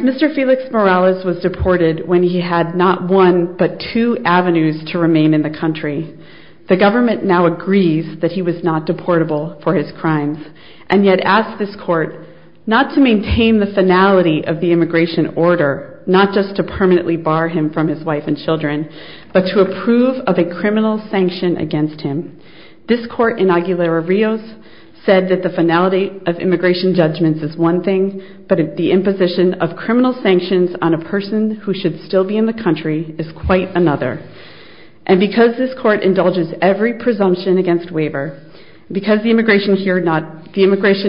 Mr. Felix Morales was deported when he had not one but two avenues to remain in the country. The government now agrees that he was not deportable for his crimes, and yet asks this court not to maintain the finality of the immigration order, not just to permanently bar him from his wife and children, but to approve his deportation. This court in Aguilera-Rios said that the finality of immigration judgments is one thing, but the imposition of criminal sanctions on a person who should still be in the country is quite another. And because this court indulges every presumption against waiver, because the immigration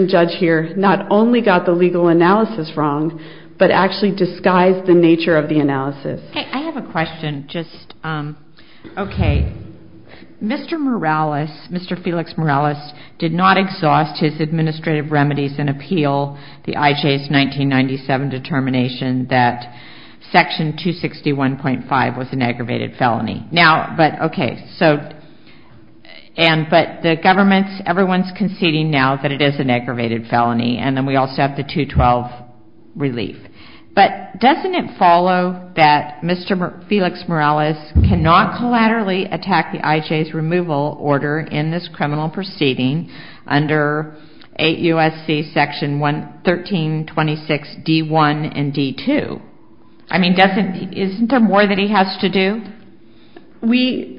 judge here not only got the legal analysis wrong, but actually disguised the nature of the analysis. I have a question. Mr. Felix Morales did not exhaust his administrative remedies and appeal the IJ's 1997 determination that section 261.5 was an aggravated felony. But the government, everyone's conceding now that it is an aggravated felony, and then we also have the 212 relief. But doesn't it follow that Mr. Felix Morales cannot collaterally attack the IJ's removal order in this criminal proceeding under 8 U.S.C. section 1326 D1 and D2? I mean, isn't there more that he has to do?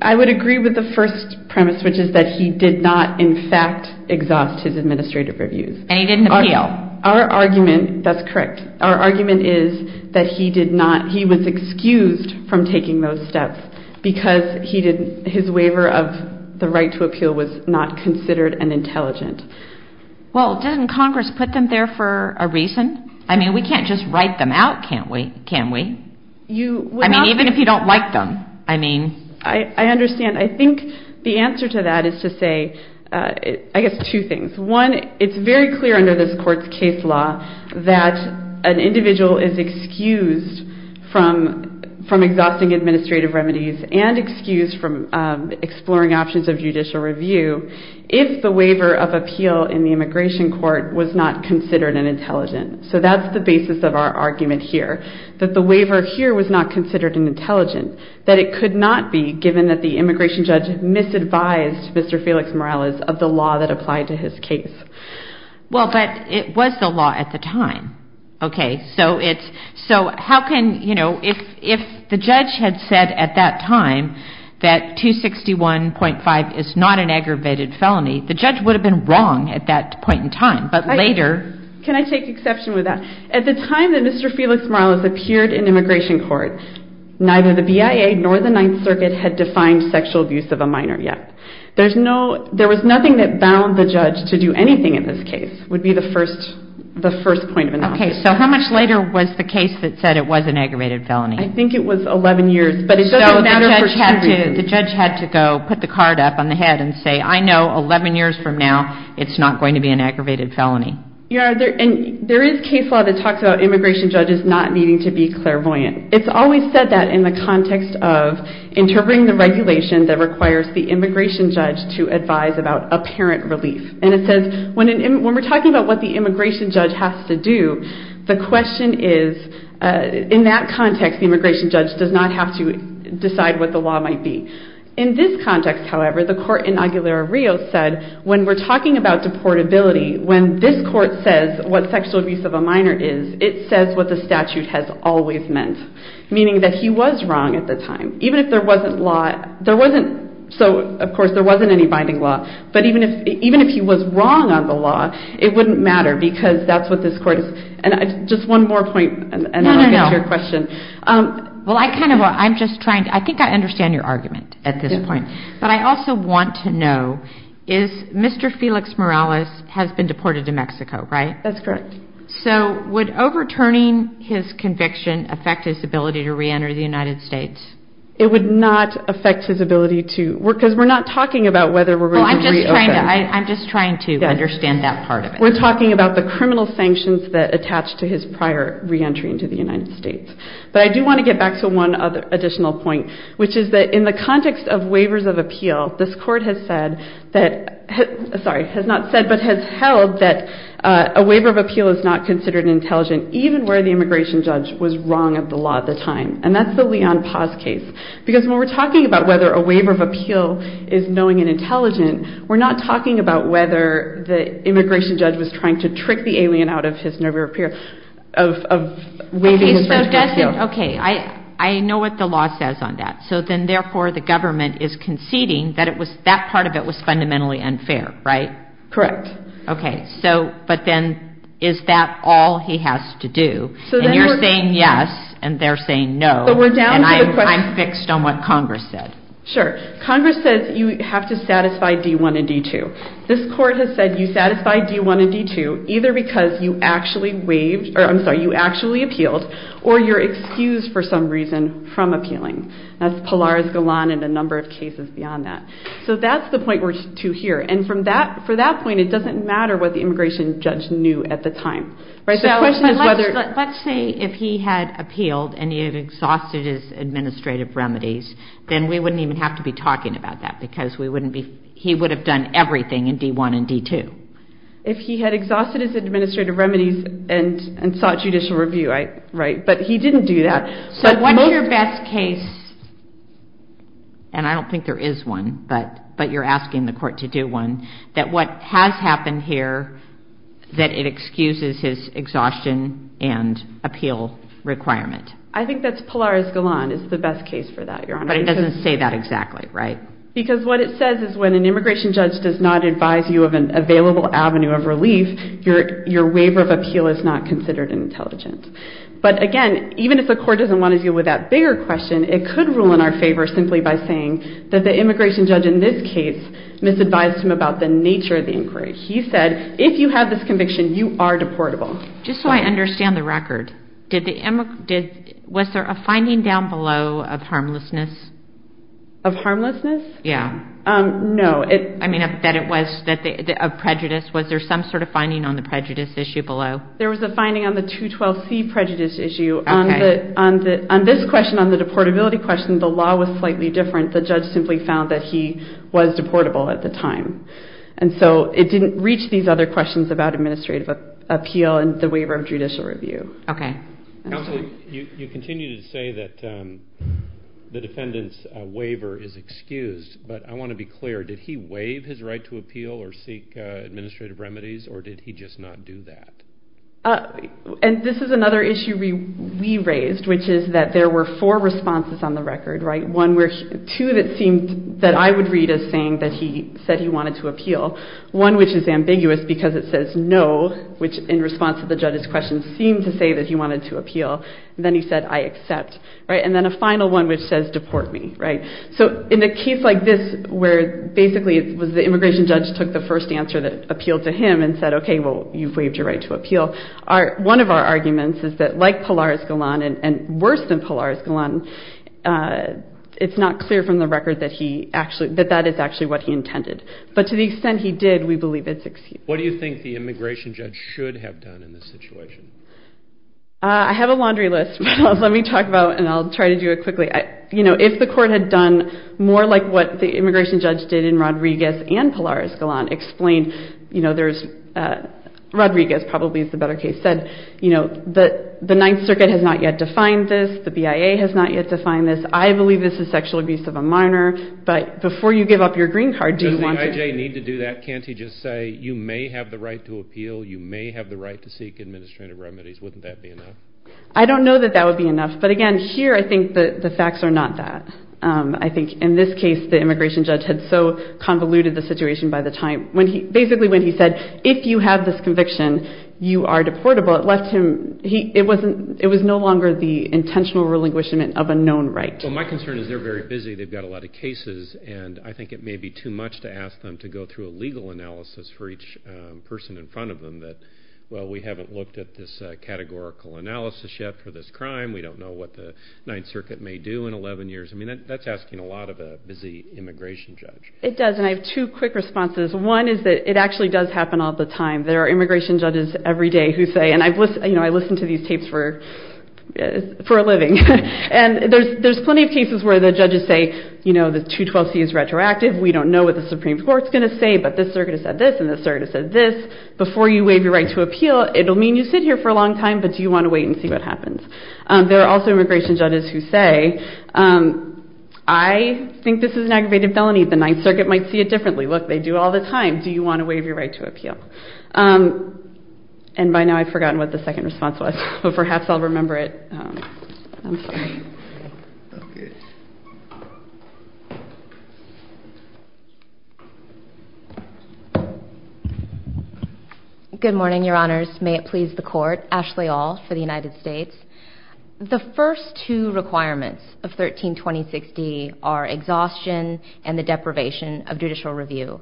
I would agree with the first premise, which is that he did not in fact exhaust his administrative reviews. And he didn't appeal. Our argument, that's correct, our argument is that he was excused from taking those steps because his waiver of the right to appeal was not considered an intelligent. Well, doesn't Congress put them there for a reason? I mean, we can't just write them out, can we? I mean, even if you don't like them. I understand. I think the answer to that is to say, I guess, two things. One, it's very clear under this court's case law that an individual is excused from exhausting administrative remedies and excused from exploring options of judicial review if the waiver of appeal in the immigration court was not considered an intelligent. So that's the basis of our argument here, that the waiver here was not considered an intelligent, that it could not be given that the immigration judge misadvised Mr. Felix Morales of the law that applied to his case. Well, but it was the law at the time. Okay, so how can, you know, if the judge had said at that time that 261.5 is not an aggravated felony, the judge would have been wrong at that point in time, but later... Can I take exception with that? At the time that Mr. Felix Morales appeared in immigration court, neither the BIA nor the Ninth Circuit had defined sexual abuse of a minor yet. There was nothing that bound the judge to do anything in this case, would be the first point of analysis. Okay, so how much later was the case that said it was an aggravated felony? I think it was 11 years, but it doesn't matter for two years. So the judge had to go put the card up on the head and say, I know 11 years from now it's not going to be an aggravated felony. Yeah, and there is case law that talks about immigration judges not needing to be clairvoyant. It's always said that in the context of interpreting the regulation that requires the immigration judge to advise about apparent relief. And it says, when we're talking about what the immigration judge has to do, the question is, in that context, the immigration judge does not have to decide what the law might be. In this context, however, the court in Aguilera Rio said, when we're talking about deportability, when this court says what sexual abuse of a minor is, it says what the statute has always meant, meaning that he was wrong at the time. Even if there wasn't law, there wasn't, so of course there wasn't any binding law, but even if he was wrong on the law, it wouldn't matter because that's what this court is. And just one more point, and then I'll get to your question. No, no, no. Well, I kind of, I'm just trying, I think I understand your argument at this point. But I also want to know, is Mr. Felix Morales has been deported to Mexico, right? That's correct. So would overturning his conviction affect his ability to re-enter the United States? It would not affect his ability to, because we're not talking about whether we're going to re-open. I'm just trying to understand that part of it. We're talking about the criminal sanctions that attach to his prior re-entry into the United States. But I do want to get back to one additional point, which is that in the context of waivers of appeal, this court has said that, sorry, has not said, but has held that a waiver of appeal is not considered intelligent, even where the immigration judge was wrong at the law at the time. And that's the Leon Paz case. Because when we're talking about whether a waiver of appeal is knowing and intelligent, we're not talking about whether the immigration judge was trying to trick the alien out of his nerve repair, of waiving in front of an appeal. Okay, I know what the law says on that. So then, therefore, the government is conceding that that part of it was fundamentally unfair, right? Correct. Okay, but then is that all he has to do? And you're saying yes, and they're saying no, and I'm fixed on what Congress said. Sure. Congress says you have to satisfy D-1 and D-2. This court has said you satisfy D-1 and D-2 either because you actually appealed or you're excused for some reason from appealing. That's Pilar Galan and a number of cases beyond that. So that's the point we're to here. And for that point, it doesn't matter what the immigration judge knew at the time. So let's say if he had appealed and he had exhausted his administrative remedies, then we wouldn't even have to be talking about that because he would have done everything in D-1 and D-2. If he had exhausted his administrative remedies and sought judicial review, right? But he didn't do that. So what is your best case, and I don't think there is one, but you're asking the court to do one, that what has happened here that it excuses his exhaustion and appeal requirement? I think that's Pilar Galan is the best case for that, Your Honor. But it doesn't say that exactly, right? Because what it says is when an immigration judge does not advise you of an available avenue of relief, your waiver of appeal is not considered an intelligence. But again, even if the court doesn't want to deal with that bigger question, it could rule in our favor simply by saying that the immigration judge in this case misadvised him about the nature of the inquiry. He said if you have this conviction, you are deportable. Just so I understand the record, was there a finding down below of harmlessness? Of harmlessness? Yeah. No. I mean, that it was a prejudice. Was there some sort of finding on the prejudice issue below? There was a finding on the 212C prejudice issue. On this question, on the deportability question, the law was slightly different. The judge simply found that he was deportable at the time. And so it didn't reach these other questions about administrative appeal and the waiver of judicial review. Okay. Counsel, you continue to say that the defendant's waiver is excused, but I want to be clear. Did he waive his right to appeal or seek administrative remedies, or did he just not do that? And this is another issue we raised, which is that there were four responses on the record, right? Two that I would read as saying that he said he wanted to appeal. One which is ambiguous because it says no, which in response to the judge's question seemed to say that he wanted to appeal. And then he said, I accept. And then a final one which says deport me. So in a case like this where basically it was the immigration judge took the first answer that appealed to him and said, okay, well, you've waived your right to appeal. So one of our arguments is that like Pilar Escalon and worse than Pilar Escalon, it's not clear from the record that that is actually what he intended. But to the extent he did, we believe it's excused. What do you think the immigration judge should have done in this situation? I have a laundry list. Let me talk about it, and I'll try to do it quickly. If the court had done more like what the immigration judge did in Rodriguez and Pilar Escalon explained, you know, there's, Rodriguez probably is the better case, said, you know, the Ninth Circuit has not yet defined this. The BIA has not yet defined this. I believe this is sexual abuse of a minor. But before you give up your green card, do you want to? Does the IJ need to do that? Can't he just say, you may have the right to appeal. You may have the right to seek administrative remedies. Wouldn't that be enough? I don't know that that would be enough. But, again, here I think the facts are not that. I think in this case the immigration judge had so convoluted the situation by the time, basically when he said, if you have this conviction, you are deportable, it left him, it was no longer the intentional relinquishment of a known right. Well, my concern is they're very busy. They've got a lot of cases, and I think it may be too much to ask them to go through a legal analysis for each person in front of them that, well, we haven't looked at this categorical analysis yet for this crime. We don't know what the Ninth Circuit may do in 11 years. I mean, that's asking a lot of a busy immigration judge. It does, and I have two quick responses. One is that it actually does happen all the time. There are immigration judges every day who say, and I listen to these tapes for a living, and there's plenty of cases where the judges say, you know, the 212C is retroactive. We don't know what the Supreme Court's going to say, but this circuit has said this, and this circuit has said this. Before you waive your right to appeal, it will mean you sit here for a long time, but do you want to wait and see what happens? There are also immigration judges who say, I think this is an aggravated felony. The Ninth Circuit might see it differently. Look, they do all the time. Do you want to waive your right to appeal? And by now I've forgotten what the second response was, but perhaps I'll remember it. Good morning, Your Honors. May it please the Court. Ashley All for the United States. The first two requirements of 1326D are exhaustion and the deprivation of judicial review,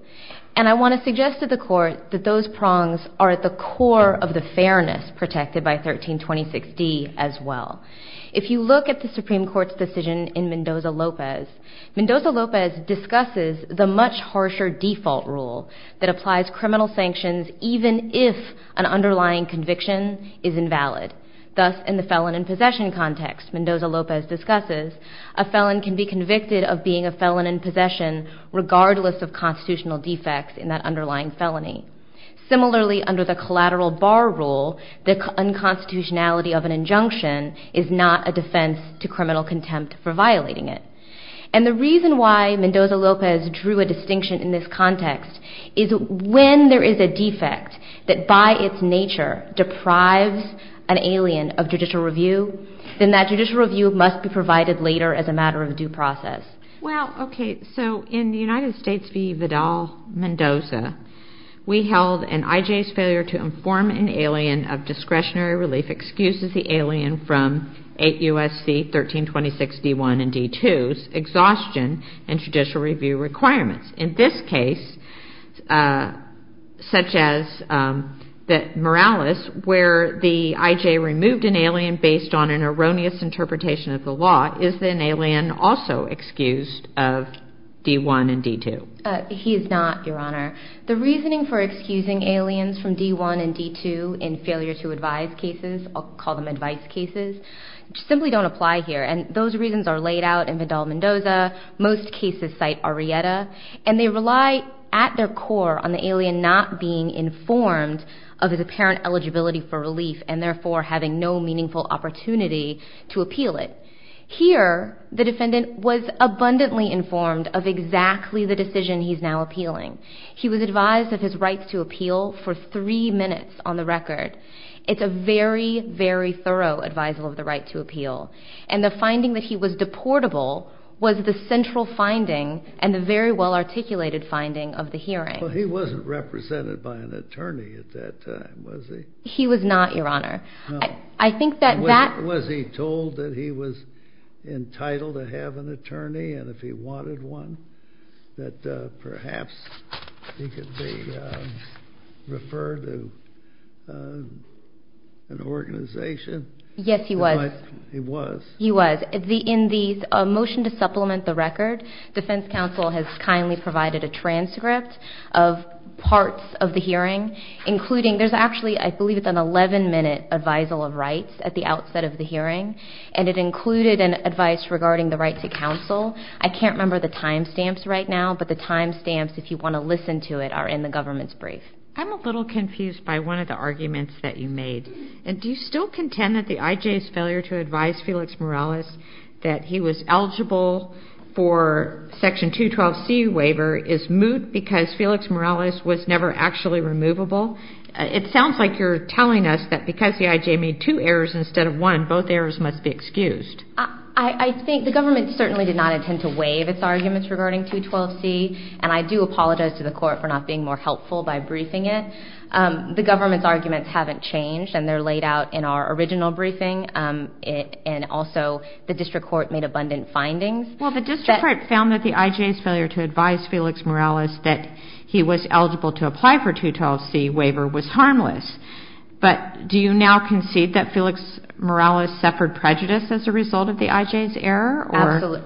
and I want to suggest to the Court that those prongs are at the core of the fairness protected by 1326D as well. If you look at the Supreme Court's decision in Mendoza-Lopez, Mendoza-Lopez discusses the much harsher default rule that applies criminal sanctions even if an underlying conviction is invalid. Thus, in the felon in possession context Mendoza-Lopez discusses, a felon can be convicted of being a felon in possession regardless of constitutional defects in that underlying felony. Similarly, under the collateral bar rule, the unconstitutionality of an injunction is not a defense to criminal contempt for violating it. And the reason why Mendoza-Lopez drew a distinction in this context is when there is a defect that by its nature deprives an alien of judicial review, then that judicial review must be provided later as a matter of due process. Well, okay, so in the United States v. Vidal-Mendoza, we held an IJ's failure to inform an alien of discretionary relief excuses the alien from 8 U.S.C. 1326D1 and D2's exhaustion and judicial review requirements. In this case, such as Morales, where the IJ removed an alien based on an erroneous interpretation of the law, is an alien also excused of D1 and D2? He is not, Your Honor. The reasoning for excusing aliens from D1 and D2 in failure to advise cases, I'll call them advice cases, simply don't apply here. And those reasons are laid out in Vidal-Mendoza. Most cases cite Arrieta. And they rely at their core on the alien not being informed of his apparent eligibility for relief and therefore having no meaningful opportunity to appeal it. Here, the defendant was abundantly informed of exactly the decision he's now appealing. He was advised of his right to appeal for three minutes on the record. It's a very, very thorough advisal of the right to appeal. And the finding that he was deportable was the central finding and the very well-articulated finding of the hearing. Well, he wasn't represented by an attorney at that time, was he? He was not, Your Honor. Was he told that he was entitled to have an attorney and if he wanted one, that perhaps he could be referred to an organization? Yes, he was. He was? He was. In the motion to supplement the record, defense counsel has kindly provided a transcript of parts of the hearing, including, there's actually, I believe it's an 11-minute advisal of rights at the outset of the hearing, and it included advice regarding the right to counsel. I can't remember the time stamps right now, but the time stamps, if you want to listen to it, are in the government's brief. I'm a little confused by one of the arguments that you made. Do you still contend that the IJ's failure to advise Felix Morales that he was eligible for Section 212C waiver is moot because Felix Morales was never actually removable? It sounds like you're telling us that because the IJ made two errors instead of one, both errors must be excused. I think the government certainly did not intend to waive its arguments regarding 212C, and I do apologize to the court for not being more helpful by briefing it. The government's arguments haven't changed, and they're laid out in our original briefing, and also the district court made abundant findings. Well, the district court found that the IJ's failure to advise Felix Morales that he was eligible to apply for 212C waiver was harmless, but do you now concede that Felix Morales suffered prejudice as a result of the IJ's error?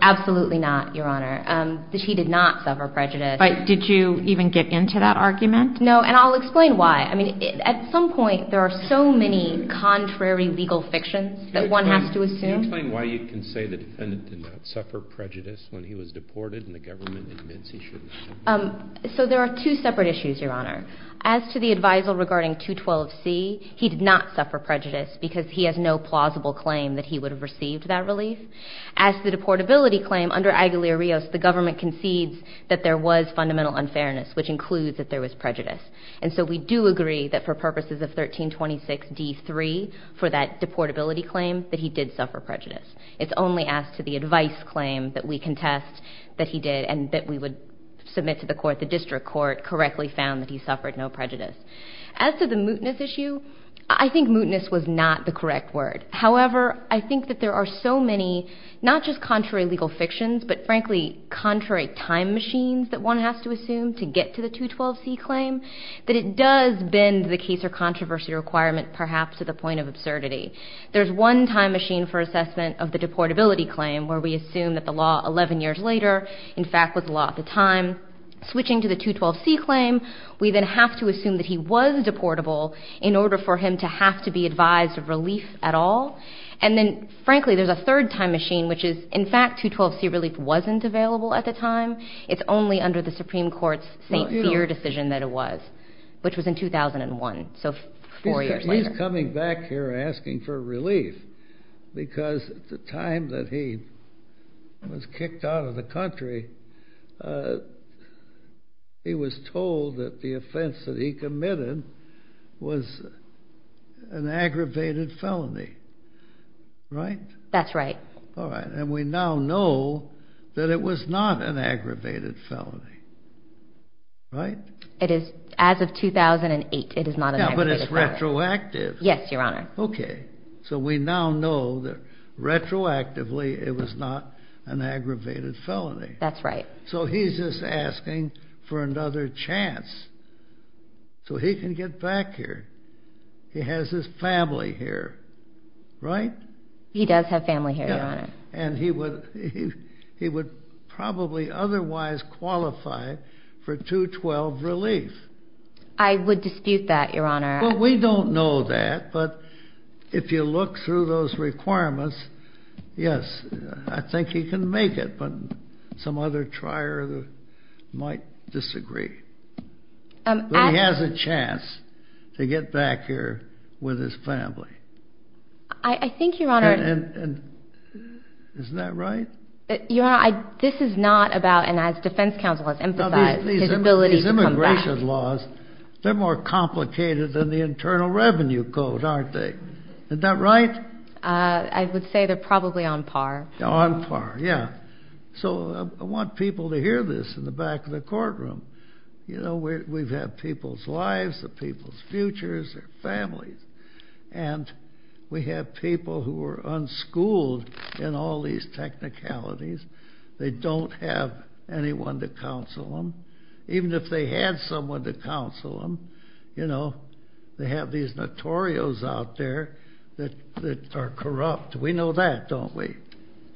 Absolutely not, Your Honor. He did not suffer prejudice. But did you even get into that argument? No, and I'll explain why. I mean, at some point there are so many contrary legal fictions that one has to assume. Can you explain why you can say the defendant did not suffer prejudice when he was deported and the government admits he shouldn't have? So there are two separate issues, Your Honor. As to the advisal regarding 212C, he did not suffer prejudice because he has no plausible claim that he would have received that relief. As to the deportability claim, under Aguilar-Rios, the government concedes that there was fundamental unfairness, which includes that there was prejudice. And so we do agree that for purposes of 1326D3, for that deportability claim, that he did suffer prejudice. It's only asked to the advice claim that we contest that he did and that we would submit to the court. The district court correctly found that he suffered no prejudice. As to the mootness issue, I think mootness was not the correct word. However, I think that there are so many not just contrary legal fictions, but frankly contrary time machines that one has to assume to get to the 212C claim, that it does bend the case or controversy requirement perhaps to the point of absurdity. There's one time machine for assessment of the deportability claim where we assume that the law 11 years later, in fact, was law at the time. Switching to the 212C claim, we then have to assume that he was deportable in order for him to have to be advised of relief at all. And then, frankly, there's a third time machine, which is, in fact, 212C relief wasn't available at the time. It's only under the Supreme Court's St. Fear decision that it was, which was in 2001, so four years later. He's coming back here asking for relief because at the time that he was kicked out of the country, he was told that the offense that he committed was an aggravated felony, right? That's right. All right, and we now know that it was not an aggravated felony, right? It is. As of 2008, it is not an aggravated felony. Yeah, but it's retroactive. Yes, Your Honor. Okay, so we now know that retroactively it was not an aggravated felony. That's right. So he's just asking for another chance so he can get back here. He has his family here, right? He does have family here, Your Honor. And he would probably otherwise qualify for 212 relief. I would dispute that, Your Honor. Well, we don't know that, but if you look through those requirements, yes, I think he can make it, but some other trier might disagree. But he has a chance to get back here with his family. I think, Your Honor. And isn't that right? Your Honor, this is not about, and as defense counsel has emphasized, his ability to come back. They're more complicated than the Internal Revenue Code, aren't they? Isn't that right? I would say they're probably on par. On par, yeah. So I want people to hear this in the back of the courtroom. You know, we've had people's lives, the people's futures, their families. And we have people who are unschooled in all these technicalities. They don't have anyone to counsel them. Even if they had someone to counsel them, you know, they have these notorios out there that are corrupt. We know that, don't we?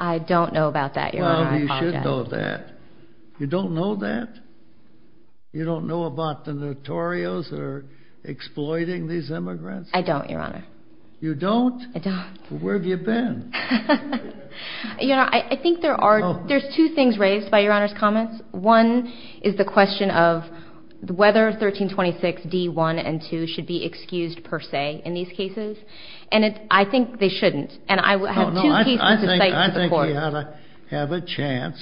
I don't know about that, Your Honor. Well, you should know that. You don't know that? You don't know about the notorios that are exploiting these immigrants? I don't, Your Honor. You don't? I don't. Well, where have you been? You know, I think there's two things raised by Your Honor's comments. One is the question of whether 1326 D-1 and 2 should be excused per se in these cases. And I think they shouldn't. And I have two cases in sight to support it. No, no, I think he ought to have a chance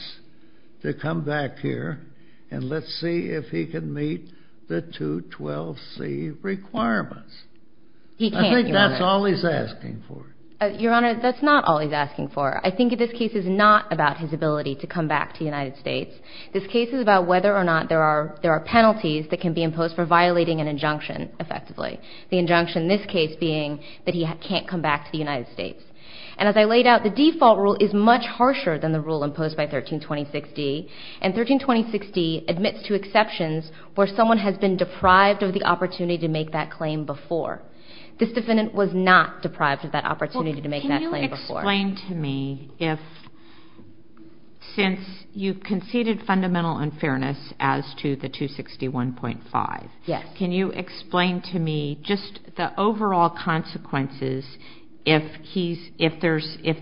to come back here and let's see if he can meet the 212C requirements. He can't, Your Honor. I think that's all he's asking for. Your Honor, that's not all he's asking for. I think this case is not about his ability to come back to the United States. This case is about whether or not there are penalties that can be imposed for violating an injunction effectively, the injunction in this case being that he can't come back to the United States. And as I laid out, the default rule is much harsher than the rule imposed by 1326 D, and 1326 D admits to exceptions where someone has been deprived of the opportunity to make that claim before. This defendant was not deprived of that opportunity to make that claim before. Well, can you explain to me if, since you conceded fundamental unfairness as to the 261.5, can you explain to me just the overall consequences if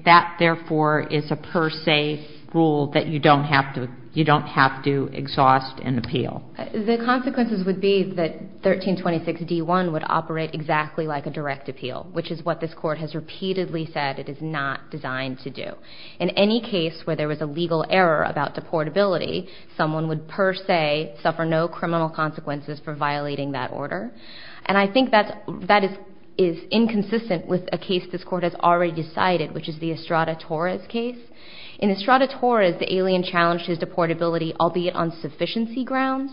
that, therefore, is a per se rule that you don't have to exhaust and appeal? The consequences would be that 1326 D-1 would operate exactly like a direct appeal, which is what this Court has repeatedly said it is not designed to do. In any case where there was a legal error about deportability, someone would per se suffer no criminal consequences for violating that order, and I think that is inconsistent with a case this Court has already decided, which is the Estrada Torres case. In Estrada Torres, the alien challenged his deportability, albeit on sufficiency grounds,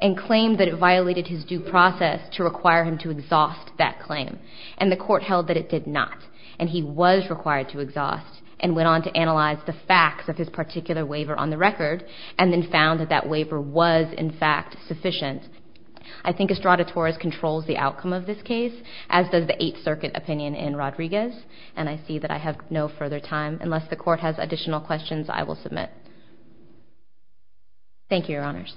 and claimed that it violated his due process to require him to exhaust that claim, and the Court held that it did not, and he was required to exhaust, and went on to analyze the facts of his particular waiver on the record, and then found that that waiver was, in fact, sufficient. I think Estrada Torres controls the outcome of this case, as does the Eighth Circuit opinion in Rodriguez, and I see that I have no further time. Unless the Court has additional questions, I will submit. Thank you, Your Honors.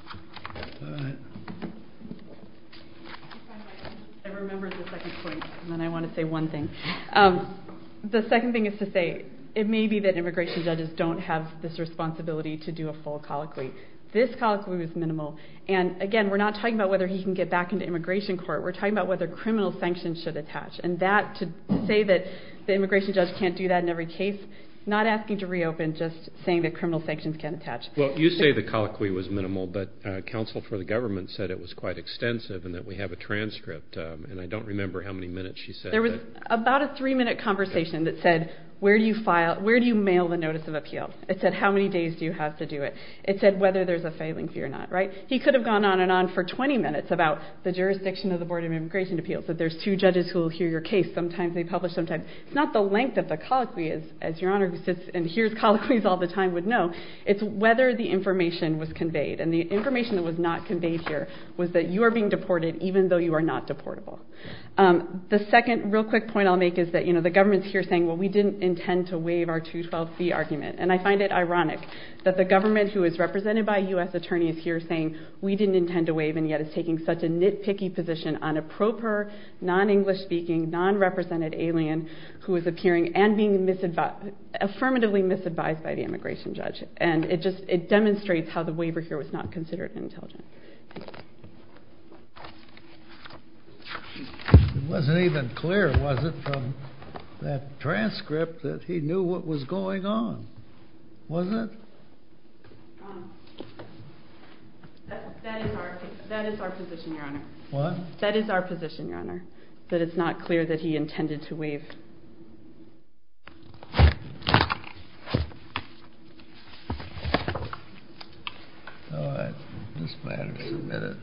I remembered the second point, and then I want to say one thing. The second thing is to say it may be that immigration judges don't have this responsibility to do a full colloquy. This colloquy was minimal, and, again, we're not talking about whether he can get back into immigration court. We're talking about whether criminal sanctions should attach, and to say that the immigration judge can't do that in every case, not asking to reopen, just saying that criminal sanctions can't attach. Well, you say the colloquy was minimal, but counsel for the government said it was quite extensive and that we have a transcript, and I don't remember how many minutes she said that. There was about a three-minute conversation that said, where do you mail the notice of appeal? It said, how many days do you have to do it? It said whether there's a failing fee or not, right? He could have gone on and on for 20 minutes about the jurisdiction of the Board of Immigration Appeals, that there's two judges who will hear your case. Sometimes they publish, sometimes they don't. It's not the length of the colloquy, as Your Honor, who sits and hears colloquies all the time, would know. It's whether the information was conveyed, and the information that was not conveyed here was that you are being deported even though you are not deportable. The second real quick point I'll make is that the government's here saying, well, we didn't intend to waive our 212b argument, and I find it ironic that the government, who is represented by a U.S. attorney, is here saying, we didn't intend to waive, and yet it's taking such a nitpicky position on a proper, non-English speaking, non-represented alien who is appearing and being affirmatively misadvised by the immigration judge. And it just demonstrates how the waiver here was not considered intelligent. It wasn't even clear, was it, from that transcript that he knew what was going on, was it? That is our position, Your Honor. What? That is our position, Your Honor, that it's not clear that he intended to waive. All right. This matter is submitted.